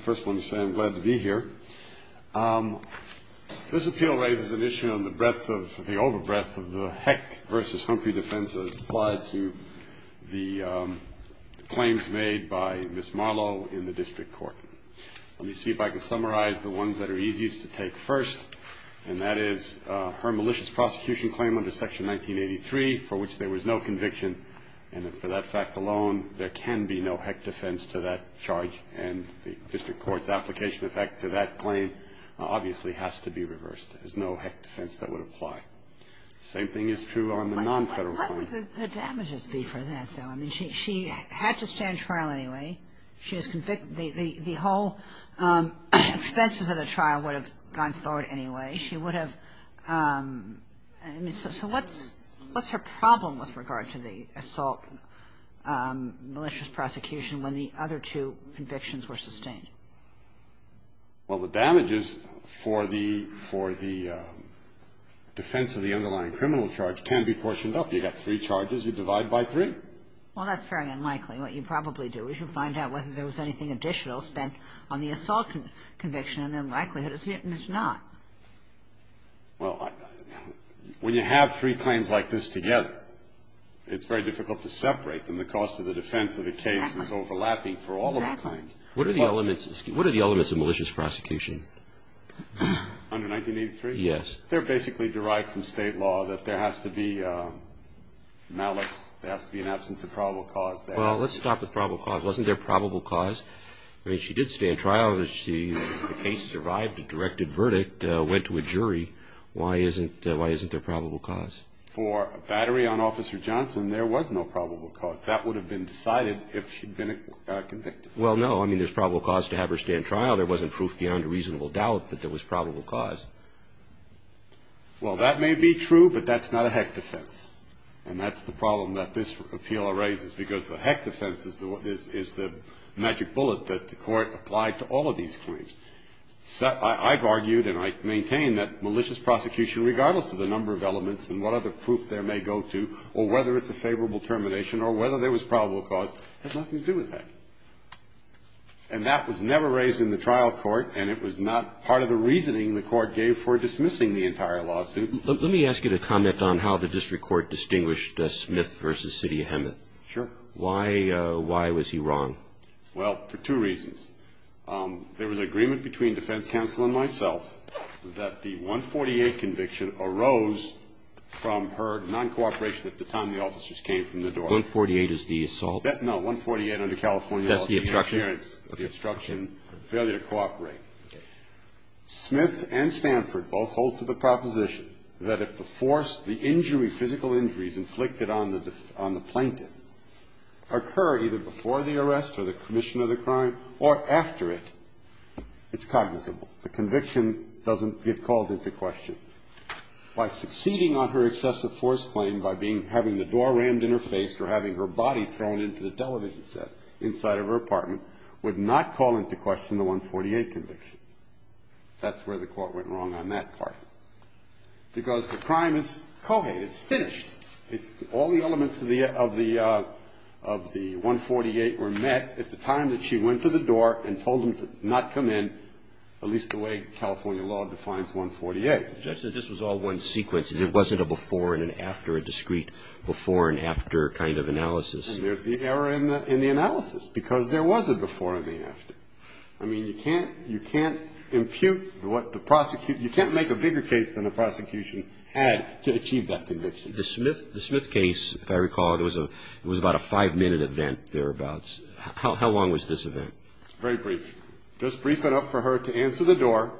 First let me say I'm glad to be here. This appeal raises an issue on the breadth of the over breadth of the Heck v. Humphrey defense as applied to the claims made by Ms. Marlow in the district court. Let me see if I can summarize the ones that are easiest to take first and that is her malicious prosecution claim under section 1983 for which there was no conviction and for that fact alone there can be no Heck defense to that charge and the district court's application effect to that claim obviously has to be reversed. There's no Heck defense that would apply. Same thing is true on the non-federal claim. She had to stand trial anyway. She was convicted. The whole expenses of the trial would have gone forward anyway. She would have. So what's what's her problem with regard to the assault malicious prosecution when the other two convictions were sustained? Well, the damages for the for the defense of the underlying criminal charge can be portioned up. You got three charges. You divide by three. Well, that's very unlikely. What you probably do is you find out whether there was anything additional spent on the assault conviction and the likelihood is hit and it's not. Well, when you have three claims like this together, it's very difficult to separate them. The cost of the defense of the case is overlapping for all of the claims. What are the elements of malicious prosecution? Under 1983? Yes. They're basically derived from state law that there has to be malice. There has to be an absence of probable cause there. Well, let's stop with probable cause. Wasn't there probable cause? I mean, she did stand trial. She survived a directed verdict, went to a jury. Why isn't why isn't there probable cause? For a battery on Officer Johnson, there was no probable cause. That would have been decided if she'd been convicted. Well, no. I mean, there's probable cause to have her stand trial. There wasn't proof beyond a reasonable doubt that there was probable cause. Well, that may be true, but that's not a heck defense. And that's the problem that this appeal raises because the heck defense is the magic bullet that the Court applied to all of these claims. So I've argued and I maintain that malicious prosecution, regardless of the number of elements and what other proof there may go to, or whether it's a favorable termination or whether there was probable cause, has nothing to do with heck. And that was never raised in the trial court, and it was not part of the reasoning the Court gave for dismissing the entire lawsuit. Let me ask you to comment on how the district court distinguished Smith versus Cydia Hemet. Sure. Why was he wrong? Well, for two reasons. There was agreement between defense counsel and myself that the 148 conviction arose from her non-cooperation at the time the officers came from the door. 148 is the assault? No, 148 under California law. That's the obstruction? The obstruction, failure to that if the force, the injury, physical injuries inflicted on the plaintiff occur either before the arrest or the commission of the crime or after it, it's cognizable. The conviction doesn't get called into question. By succeeding on her excessive force claim, by having the door rammed in her face or having her body thrown into the television set inside of her apartment, would not call into question the 148 conviction. That's where the Court went wrong on that part. Because the crime is co-hated. It's finished. It's all the elements of the 148 were met at the time that she went to the door and told them to not come in, at least the way California law defines 148. Justice, this was all one sequence, and it wasn't a before and an after, a discrete before and after kind of analysis. And there's the error in the analysis, because there was a before and an after. I mean, you can't impute what the prosecutor, you can't make a bigger case than the prosecution had to achieve that conviction. The Smith case, if I recall, there was about a five-minute event thereabouts. How long was this event? Very brief. Just brief enough for her to answer the door,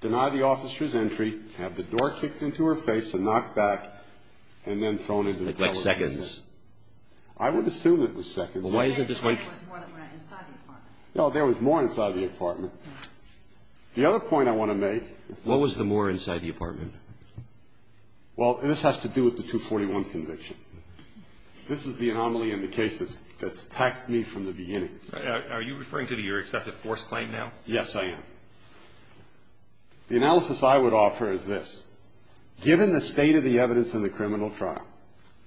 deny the officer's entry, have the door kicked into her face and knocked back, and then thrown into the television set. Like seconds? I would assume it was seconds. Well, why is it this way? It was more than that, inside the apartment. No, there was more inside the apartment. The other point I want to make is that What was the more inside the apartment? Well, this has to do with the 241 conviction. This is the anomaly in the case that's taxed me from the beginning. Are you referring to your excessive force claim now? Yes, I am. The analysis I would offer is this. Given the state of the evidence in the criminal trial,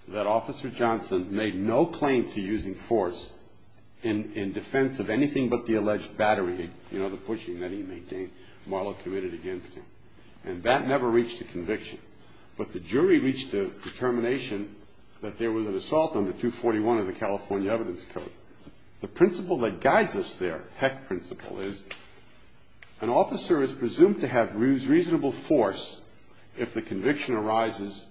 that Officer Johnson made no claim to using force in defense of anything but the alleged battery, you know, the pushing that he made, Marlowe committed against him. And that never reached a conviction. But the jury reached a determination that there was an assault on the 241 of the California Evidence Code. The principle that guides us there, heck principle, is an officer is presumed to have reasonable force if the conviction arises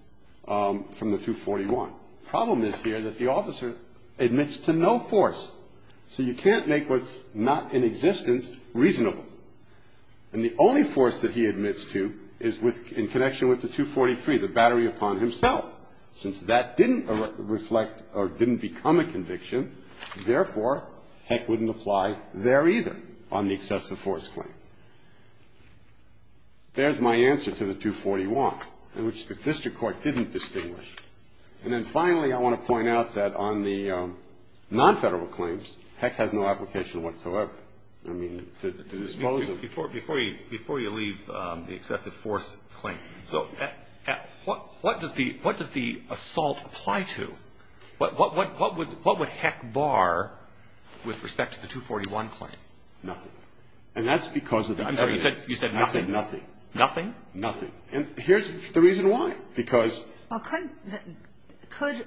from the 241. Problem is here that the officer admits to no force. So you can't make what's not in existence reasonable. And the only force that he admits to is in connection with the 243, the battery upon himself. Since that didn't reflect or didn't become a conviction, therefore, heck wouldn't apply there either on the excessive force claim. There's my answer to the 241, in which the district court didn't distinguish. And then finally, I want to point out that on the non-Federal claims, heck has no application whatsoever. I mean, to dispose of. Before you leave the excessive force claim, so what does the assault apply to? What would heck bar with respect to the 241 claim? Nothing. And that's because of the- You said nothing? I said nothing. Nothing? Nothing. And here's the reason why. Because- Well, could,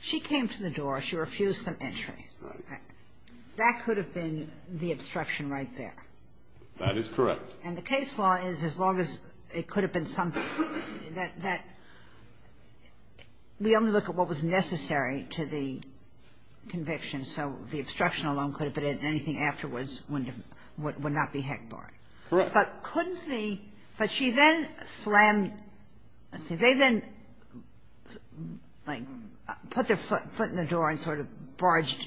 she came to the door. She refused some entry. That could have been the obstruction right there. That is correct. And the case law is, as long as it could have been something that, we only look at what was necessary to the conviction. So the obstruction alone could have been anything afterwards would not be heck bar. Correct. But couldn't the, but she then slammed, let's see, they then like put their foot in the door and sort of barged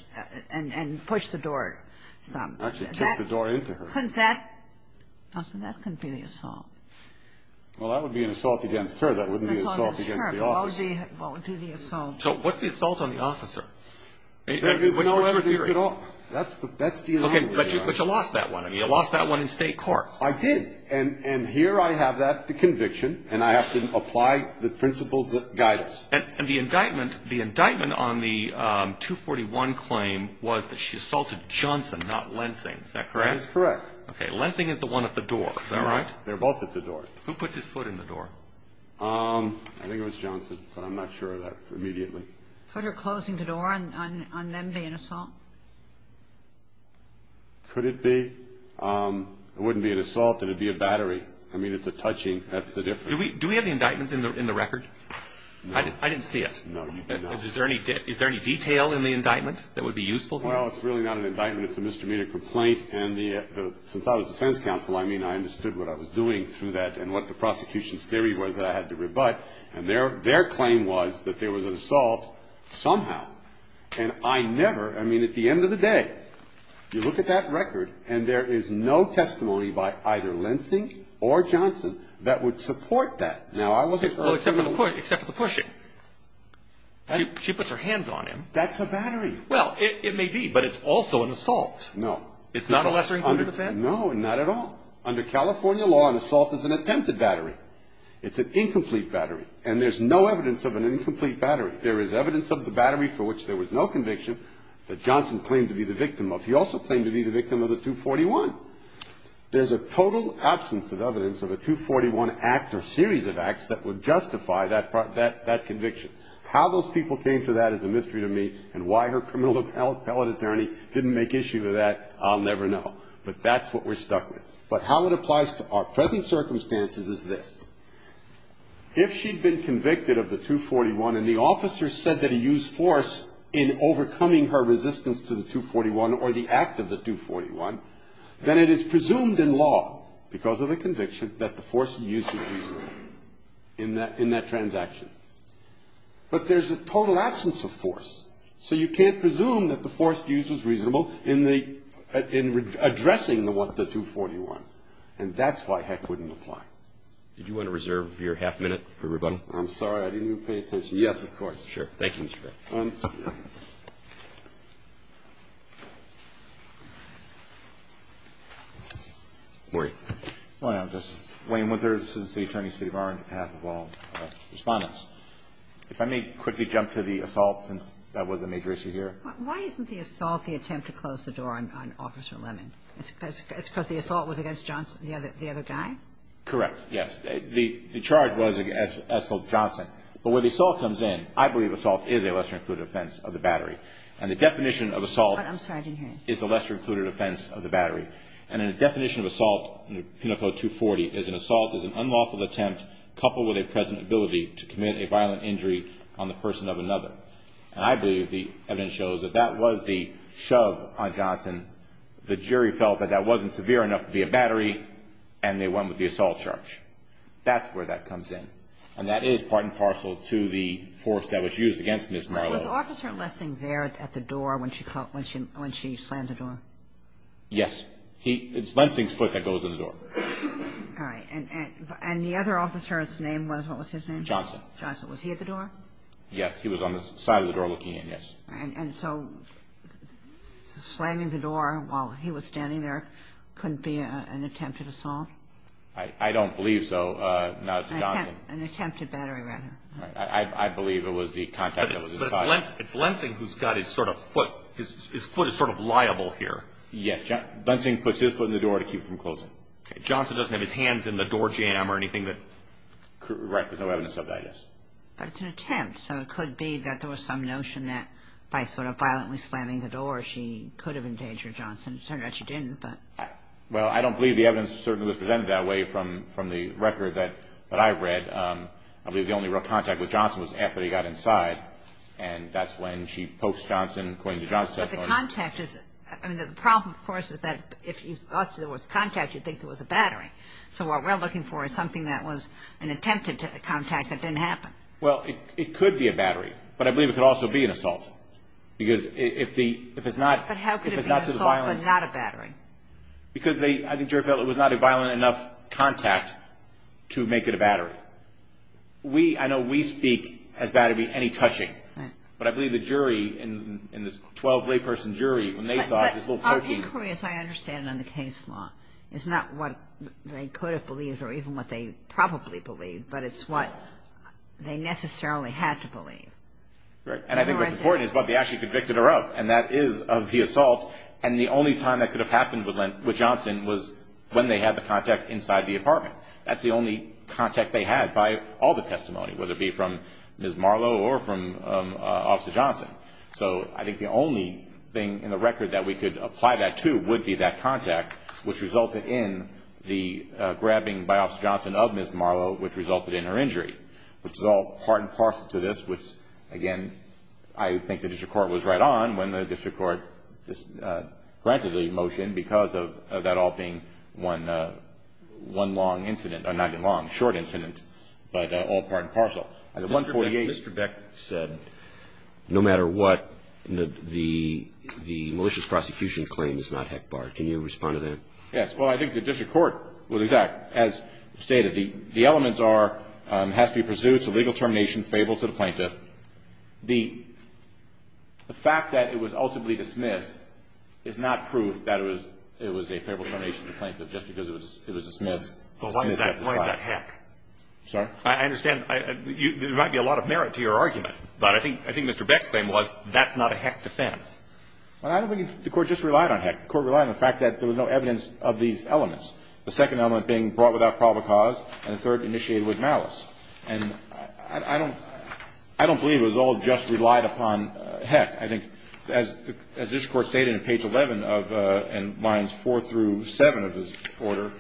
and pushed the door some. Actually kicked the door into her. Couldn't that, I said that couldn't be the assault. Well, that would be an assault against her. That wouldn't be an assault against the officer. As long as it's her, it won't do the assault. So what's the assault on the officer? There is no evidence at all. That's the, that's the- Okay, but you lost that one. I mean, you lost that one in state court. I did. And, and here I have that, the conviction, and I have to apply the principles that guide us. And, and the indictment, the indictment on the 241 claim was that she assaulted Johnson, not Lensing. Is that correct? That is correct. Okay, Lensing is the one at the door, is that right? They're both at the door. Who put his foot in the door? I think it was Johnson, but I'm not sure of that immediately. Could her closing the door on, on, on them be an assault? Could it be? It wouldn't be an assault, it would be a battery. I mean, it's a touching, that's the difference. Do we, do we have the indictment in the, in the record? I didn't, I didn't see it. No, you did not. Is there any, is there any detail in the indictment that would be useful here? Well, it's really not an indictment, it's a misdemeanor complaint. And the, the, since I was defense counsel, I mean, I understood what I was doing through that and what the prosecution's theory was that I had to rebut. And their, their claim was that there was an assault somehow. And I never, I mean, at the end of the day, you look at that record and there is no testimony by either Lensing or Johnson that would support that. Now, I wasn't. Well, except for the push, except for the pushing. She puts her hands on him. That's a battery. Well, it, it may be, but it's also an assault. No. It's not a lesser injury offense? No, not at all. Under California law, an assault is an attempted battery. It's an incomplete battery. And there's no evidence of an incomplete battery. There is evidence of the battery for which there was no conviction that Johnson claimed to be the victim of. He also claimed to be the victim of the 241. There's a total absence of evidence of a 241 act or series of acts that would justify that part, that, that conviction. How those people came to that is a mystery to me. And why her criminal appellate attorney didn't make issue of that, I'll never know. But that's what we're stuck with. But how it applies to our present circumstances is this. If she'd been convicted of the 241 and the officer said that he used force in overcoming her resistance to the 241 or the act of the 241, then it is presumed in law, because of the conviction, that the force used was reasonable in that, in that transaction. But there's a total absence of force. So you can't presume that the force used was reasonable in the, in addressing the one, the 241. And that's why heck wouldn't apply. Did you want to reserve your half minute for rebuttal? I'm sorry, I didn't mean to pay attention. Yes, of course. Sure. Thank you, Mr. Frick. I'm sorry. Maurie. Well, this is Wayne Winthers. This is the attorney, state of Orange, on behalf of all respondents. If I may quickly jump to the assault, since that was a major issue here. Why isn't the assault the attempt to close the door on, on Officer Lemon? It's, it's, it's because the assault was against Johnson, the other, the other guy? Correct, yes. The, the charge was against, as, assault Johnson. But where the assault comes in, I believe assault is a lesser-included offense of the battery. And the definition of assault is a lesser-included offense of the battery. And the definition of assault in the Penal Code 240 is an assault is an unlawful attempt coupled with a present ability to commit a violent injury on the person of another. And I believe the evidence shows that that was the shove on Johnson. The jury felt that that wasn't severe enough to be a battery. And they went with the assault charge. That's where that comes in. And that is part and parcel to the force that was used against Ms. Marlowe. Was Officer Lensing there at the door when she called, when she, when she slammed the door? Yes. He, it's Lensing's foot that goes in the door. All right. And, and, and the other officer, his name was, what was his name? Johnson. Johnson. Was he at the door? Yes. He was on the side of the door looking in, yes. And, and so slamming the door while he was standing there couldn't be an attempted assault? I, I don't believe so. No, it's Johnson. An attempted battery rather. I, I, I believe it was the contact that was inside. But it's Lensing, it's Lensing who's got his sort of foot, his foot is sort of liable here. Yes. Johnson, Lensing puts his foot in the door to keep from closing. Okay. Johnson doesn't have his hands in the door jamb or anything that could, right, there's no evidence of that, I guess. But it's an attempt. So it could be that there was some notion that by sort of violently slamming the door she could have endangered Johnson. It turned out she didn't, but. Well, I don't believe the evidence certainly was presented that way from, from the record that, that I read. I believe the only real contact with Johnson was after they got inside. And that's when she pokes Johnson, according to Johnson's testimony. But the contact is, I mean, the problem, of course, is that if you, if there was contact, you'd think there was a battery. So what we're looking for is something that was an attempted contact that didn't happen. Well, it could be a battery. But I believe it could also be an assault. Because if the, if it's not. But how could it be an assault but not a battery? Because they, I think jury felt it was not a violent enough contact to make it a battery. We, I know we speak as battery any touching. But I believe the jury in, in this 12 layperson jury, when they saw this little pokey. Our inquiry, as I understand it in the case law, is not what they could have believed or even what they probably believed. But it's what they necessarily had to believe. Right. And I think what's important is what they actually convicted her of. And that is of the assault. And the only time that could have happened with Johnson was when they had the contact inside the apartment. That's the only contact they had by all the testimony, whether it be from Ms. Marlowe or from Officer Johnson. So I think the only thing in the record that we could apply that to would be that contact. Which resulted in the grabbing by Officer Johnson of Ms. Marlowe, which resulted in her injury. Which is all part and parcel to this. Which again, I think the district court was right on when the district court just granted the motion. Because of that all being one, one long incident. Or not even long, short incident. But all part and parcel. The 148. Mr. Beck said no matter what, the, the malicious prosecution claim is not HECBAR. Can you respond to that? Yes. Well, I think the district court would exact, as stated, the, the elements are, has to be pursued. It's a legal termination, fable to the plaintiff. The, the fact that it was ultimately dismissed is not proof that it was, it was a fable termination to the plaintiff. Just because it was, it was dismissed. But why is that, why is that HEC? I'm sorry? I understand. I, you, there might be a lot of merit to your argument. But I think, I think Mr. Beck's claim was that's not a HEC defense. Well, I don't think the court just relied on HEC. The court relied on the fact that there was no evidence of these elements. The second element being brought without probable cause, and the third initiated with malice. And I, I don't, I don't believe it was all just relied upon HEC. I think, as, as district court stated in page 11 of, in lines 4 through 7 of this order,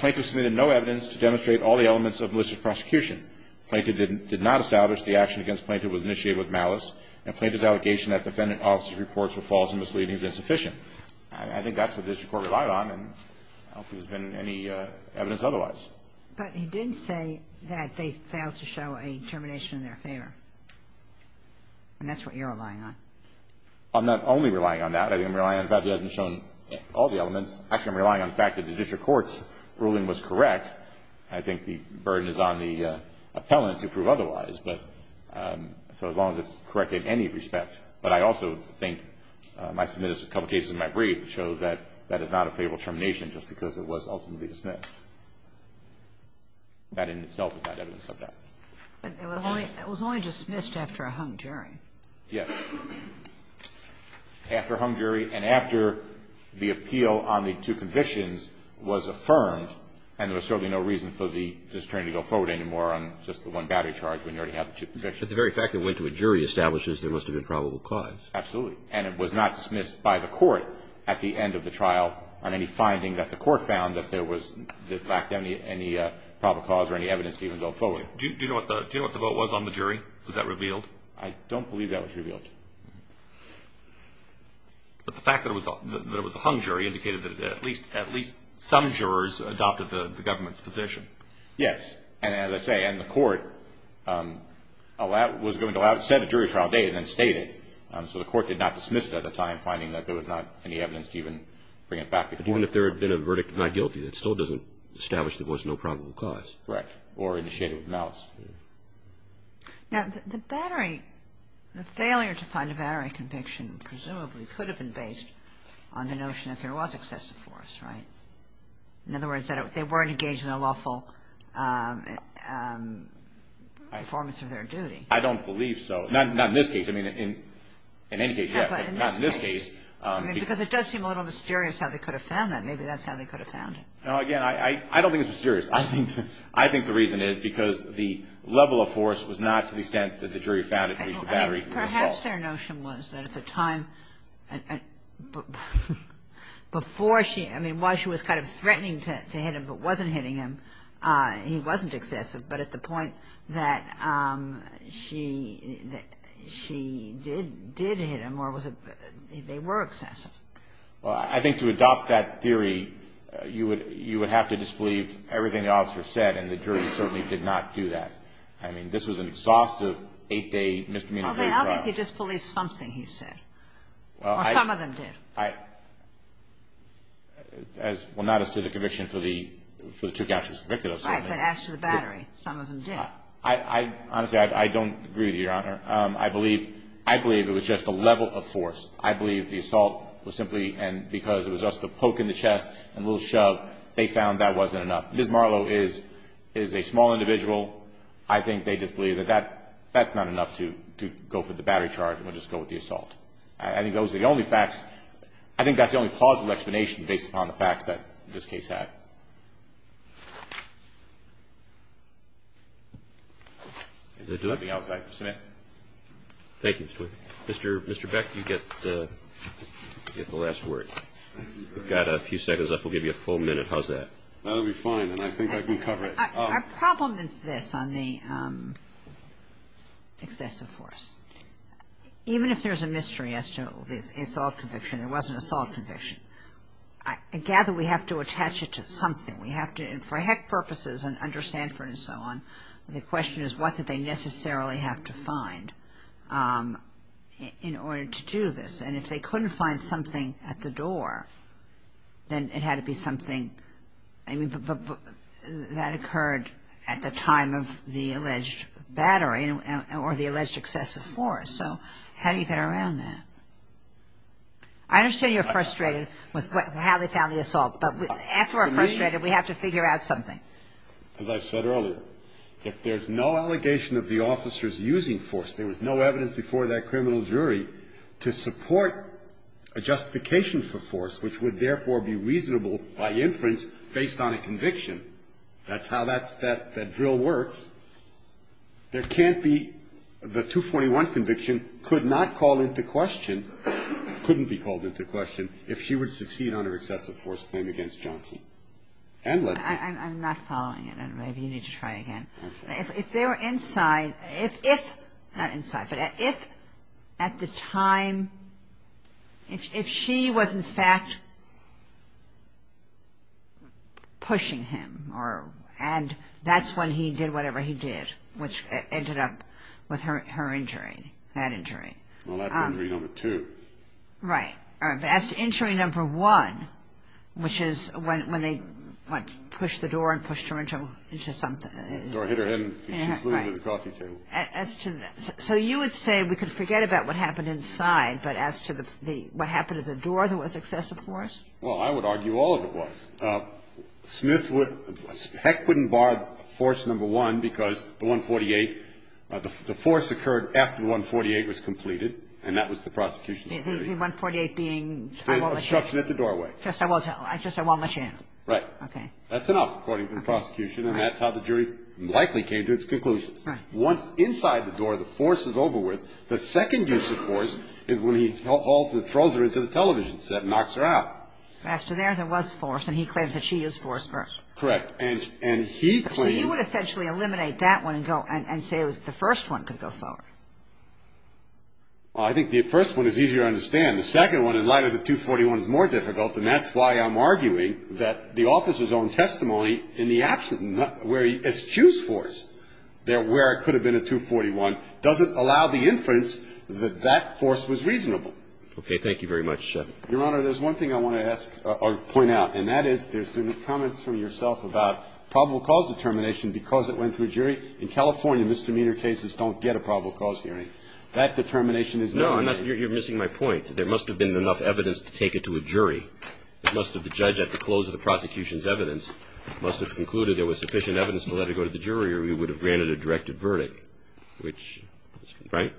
plaintiff submitted no evidence to demonstrate all the elements of malicious prosecution. Plaintiff did, did not establish the action against plaintiff was initiated with malice. And plaintiff's allegation that defendant officers' reports were false and misleading is insufficient. I, I think that's what district court relied on, and I don't think there's been any evidence otherwise. But you didn't say that they failed to show a termination in their favor. And that's what you're relying on. I'm not only relying on that. I think I'm relying on the fact that it hasn't shown all the elements. Actually, I'm relying on the fact that the district court's ruling was correct. I think the burden is on the appellant to prove otherwise. But, so as long as it's correct in any respect. But I also think my submitted a couple of cases in my brief that show that, that is not a favorable termination just because it was ultimately dismissed. That in itself is not evidence of that. But it was only, it was only dismissed after a hung jury. Yes. After a hung jury and after the appeal on the two convictions was affirmed, and there was certainly no reason for the district attorney to go forward anymore on just the one battery charge when you already have the two convictions. But the very fact that it went to a jury establishes there must have been probable cause. Absolutely. And it was not dismissed by the court at the end of the trial on any finding that the court found that there was, that lacked any, any probable cause or any evidence to even go forward. Do you know what the vote was on the jury? Was that revealed? I don't believe that was revealed. But the fact that it was a hung jury indicated that at least, at least some jurors adopted the government's position. Yes. And as I say, and the court allowed, was going to allow, set a jury trial date and then state it. So the court did not dismiss it at the time, finding that there was not any evidence to even bring it back before. Even if there had been a verdict of not guilty, that still doesn't establish there was no probable cause. Correct. Or initiated with malice. Now, the battery, the failure to find a battery conviction presumably could have been based on the notion that there was excessive force, right? In other words, that they weren't engaged in a lawful performance of their duty. I don't believe so. Not in this case. I mean, in any case, yeah. But not in this case. Because it does seem a little mysterious how they could have found that. Maybe that's how they could have found it. Again, I don't think it's mysterious. I think the reason is because the level of force was not to the extent that the jury found it to be the battery. Perhaps their notion was that at the time, before she – I mean, while she was kind of threatening to hit him but wasn't hitting him, he wasn't excessive, but at the point that she did hit him or was it – they were excessive. Well, I think to adopt that theory, you would have to disbelieve everything the officer said, and the jury certainly did not do that. I mean, this was an exhaustive eight-day miscommunication. Well, they obviously disbelieved something he said. Well, I – Or some of them did. I – as – well, not as to the conviction for the two counts he was convicted of, certainly. Right. But as to the battery, some of them did. I – honestly, I don't agree with you, Your Honor. I believe – I believe it was just the level of force. I believe the assault was simply – and because it was just a poke in the chest and a little shove, they found that wasn't enough. Ms. Marlow is a small individual. I think they just believed that that – that's not enough to go for the battery charge and would just go with the assault. I think those are the only facts – I think that's the only plausible explanation based upon the facts that this case had. Is there anything else I can submit? Thank you, Mr. Twigg. Mr. Beck, you get the last word. We've got a few seconds left. We'll give you a full minute. How's that? That'll be fine, and I think I can cover it. Our problem is this on the excessive force. Even if there's a mystery as to the assault conviction, there was an assault conviction, I gather we have to attach it to something. We have to – and for heck purposes and under Sanford and so on, the question is what did they necessarily have to find in order to do this. And if they couldn't find something at the door, then it had to be something – that occurred at the time of the alleged battery or the alleged excessive force. So how do you get around that? I understand you're frustrated with how they found the assault, but after we're frustrated, we have to figure out something. As I said earlier, if there's no allegation of the officers using force, there was no evidence before that criminal jury to support a justification for force, which would therefore be reasonable by inference based on a conviction. That's how that drill works. There can't be – the 241 conviction could not call into question, couldn't be called into question, if she would succeed on her excessive force claim against Jaunty. And let's see. I'm not following it. Maybe you need to try again. Okay. If they were inside – if – not inside – but if at the time – if she was in fact pushing him and that's when he did whatever he did, which ended up with her injury, that injury. Well, that's injury number two. Right. That's injury number one, which is when they pushed the door and pushed her into something. The door hit her head and she flew into the coffee table. As to – so you would say we could forget about what happened inside but as to the – what happened to the door that was excessive force? Well, I would argue all of it was. Smith would – heck wouldn't bar force number one because the 148 – the force occurred after the 148 was completed and that was the prosecution's theory. The 148 being – The obstruction at the doorway. Just I won't let you in. Right. Okay. That's enough according to the prosecution and that's how the jury likely came to its conclusions. Right. Once inside the door the force is over with, the second use of force is when he also throws her into the television set and knocks her out. As to there, there was force and he claims that she used force first. Correct. And he claims – So you would essentially eliminate that one and go – and say it was the first one could go forward. Well, I think the first one is easier to understand. The second one, in light of the 241, is more difficult and that's why I'm arguing that the officer's own testimony in the absence – where he eschews force where it could have been a 241 doesn't allow the inference that that force was reasonable. Okay. Thank you very much. Your Honor, there's one thing I want to ask or point out and that is there's been comments from yourself about probable cause determination because it went through a jury. In California, misdemeanor cases don't get a probable cause hearing. That determination is never made. No. You're missing my point. There must have been enough evidence to take it to a jury. It must have – the judge, at the close of the prosecution's evidence must have concluded there was sufficient evidence to let it go to the jury or he would have granted a directed verdict, which – right?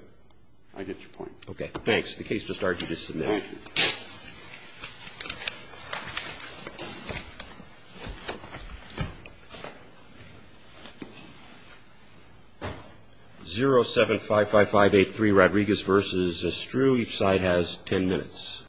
I get your point. Okay. Thanks. The case just started. You can submit it. Thank you. 0755583 Rodriguez v. Estrue. Each side has 10 minutes.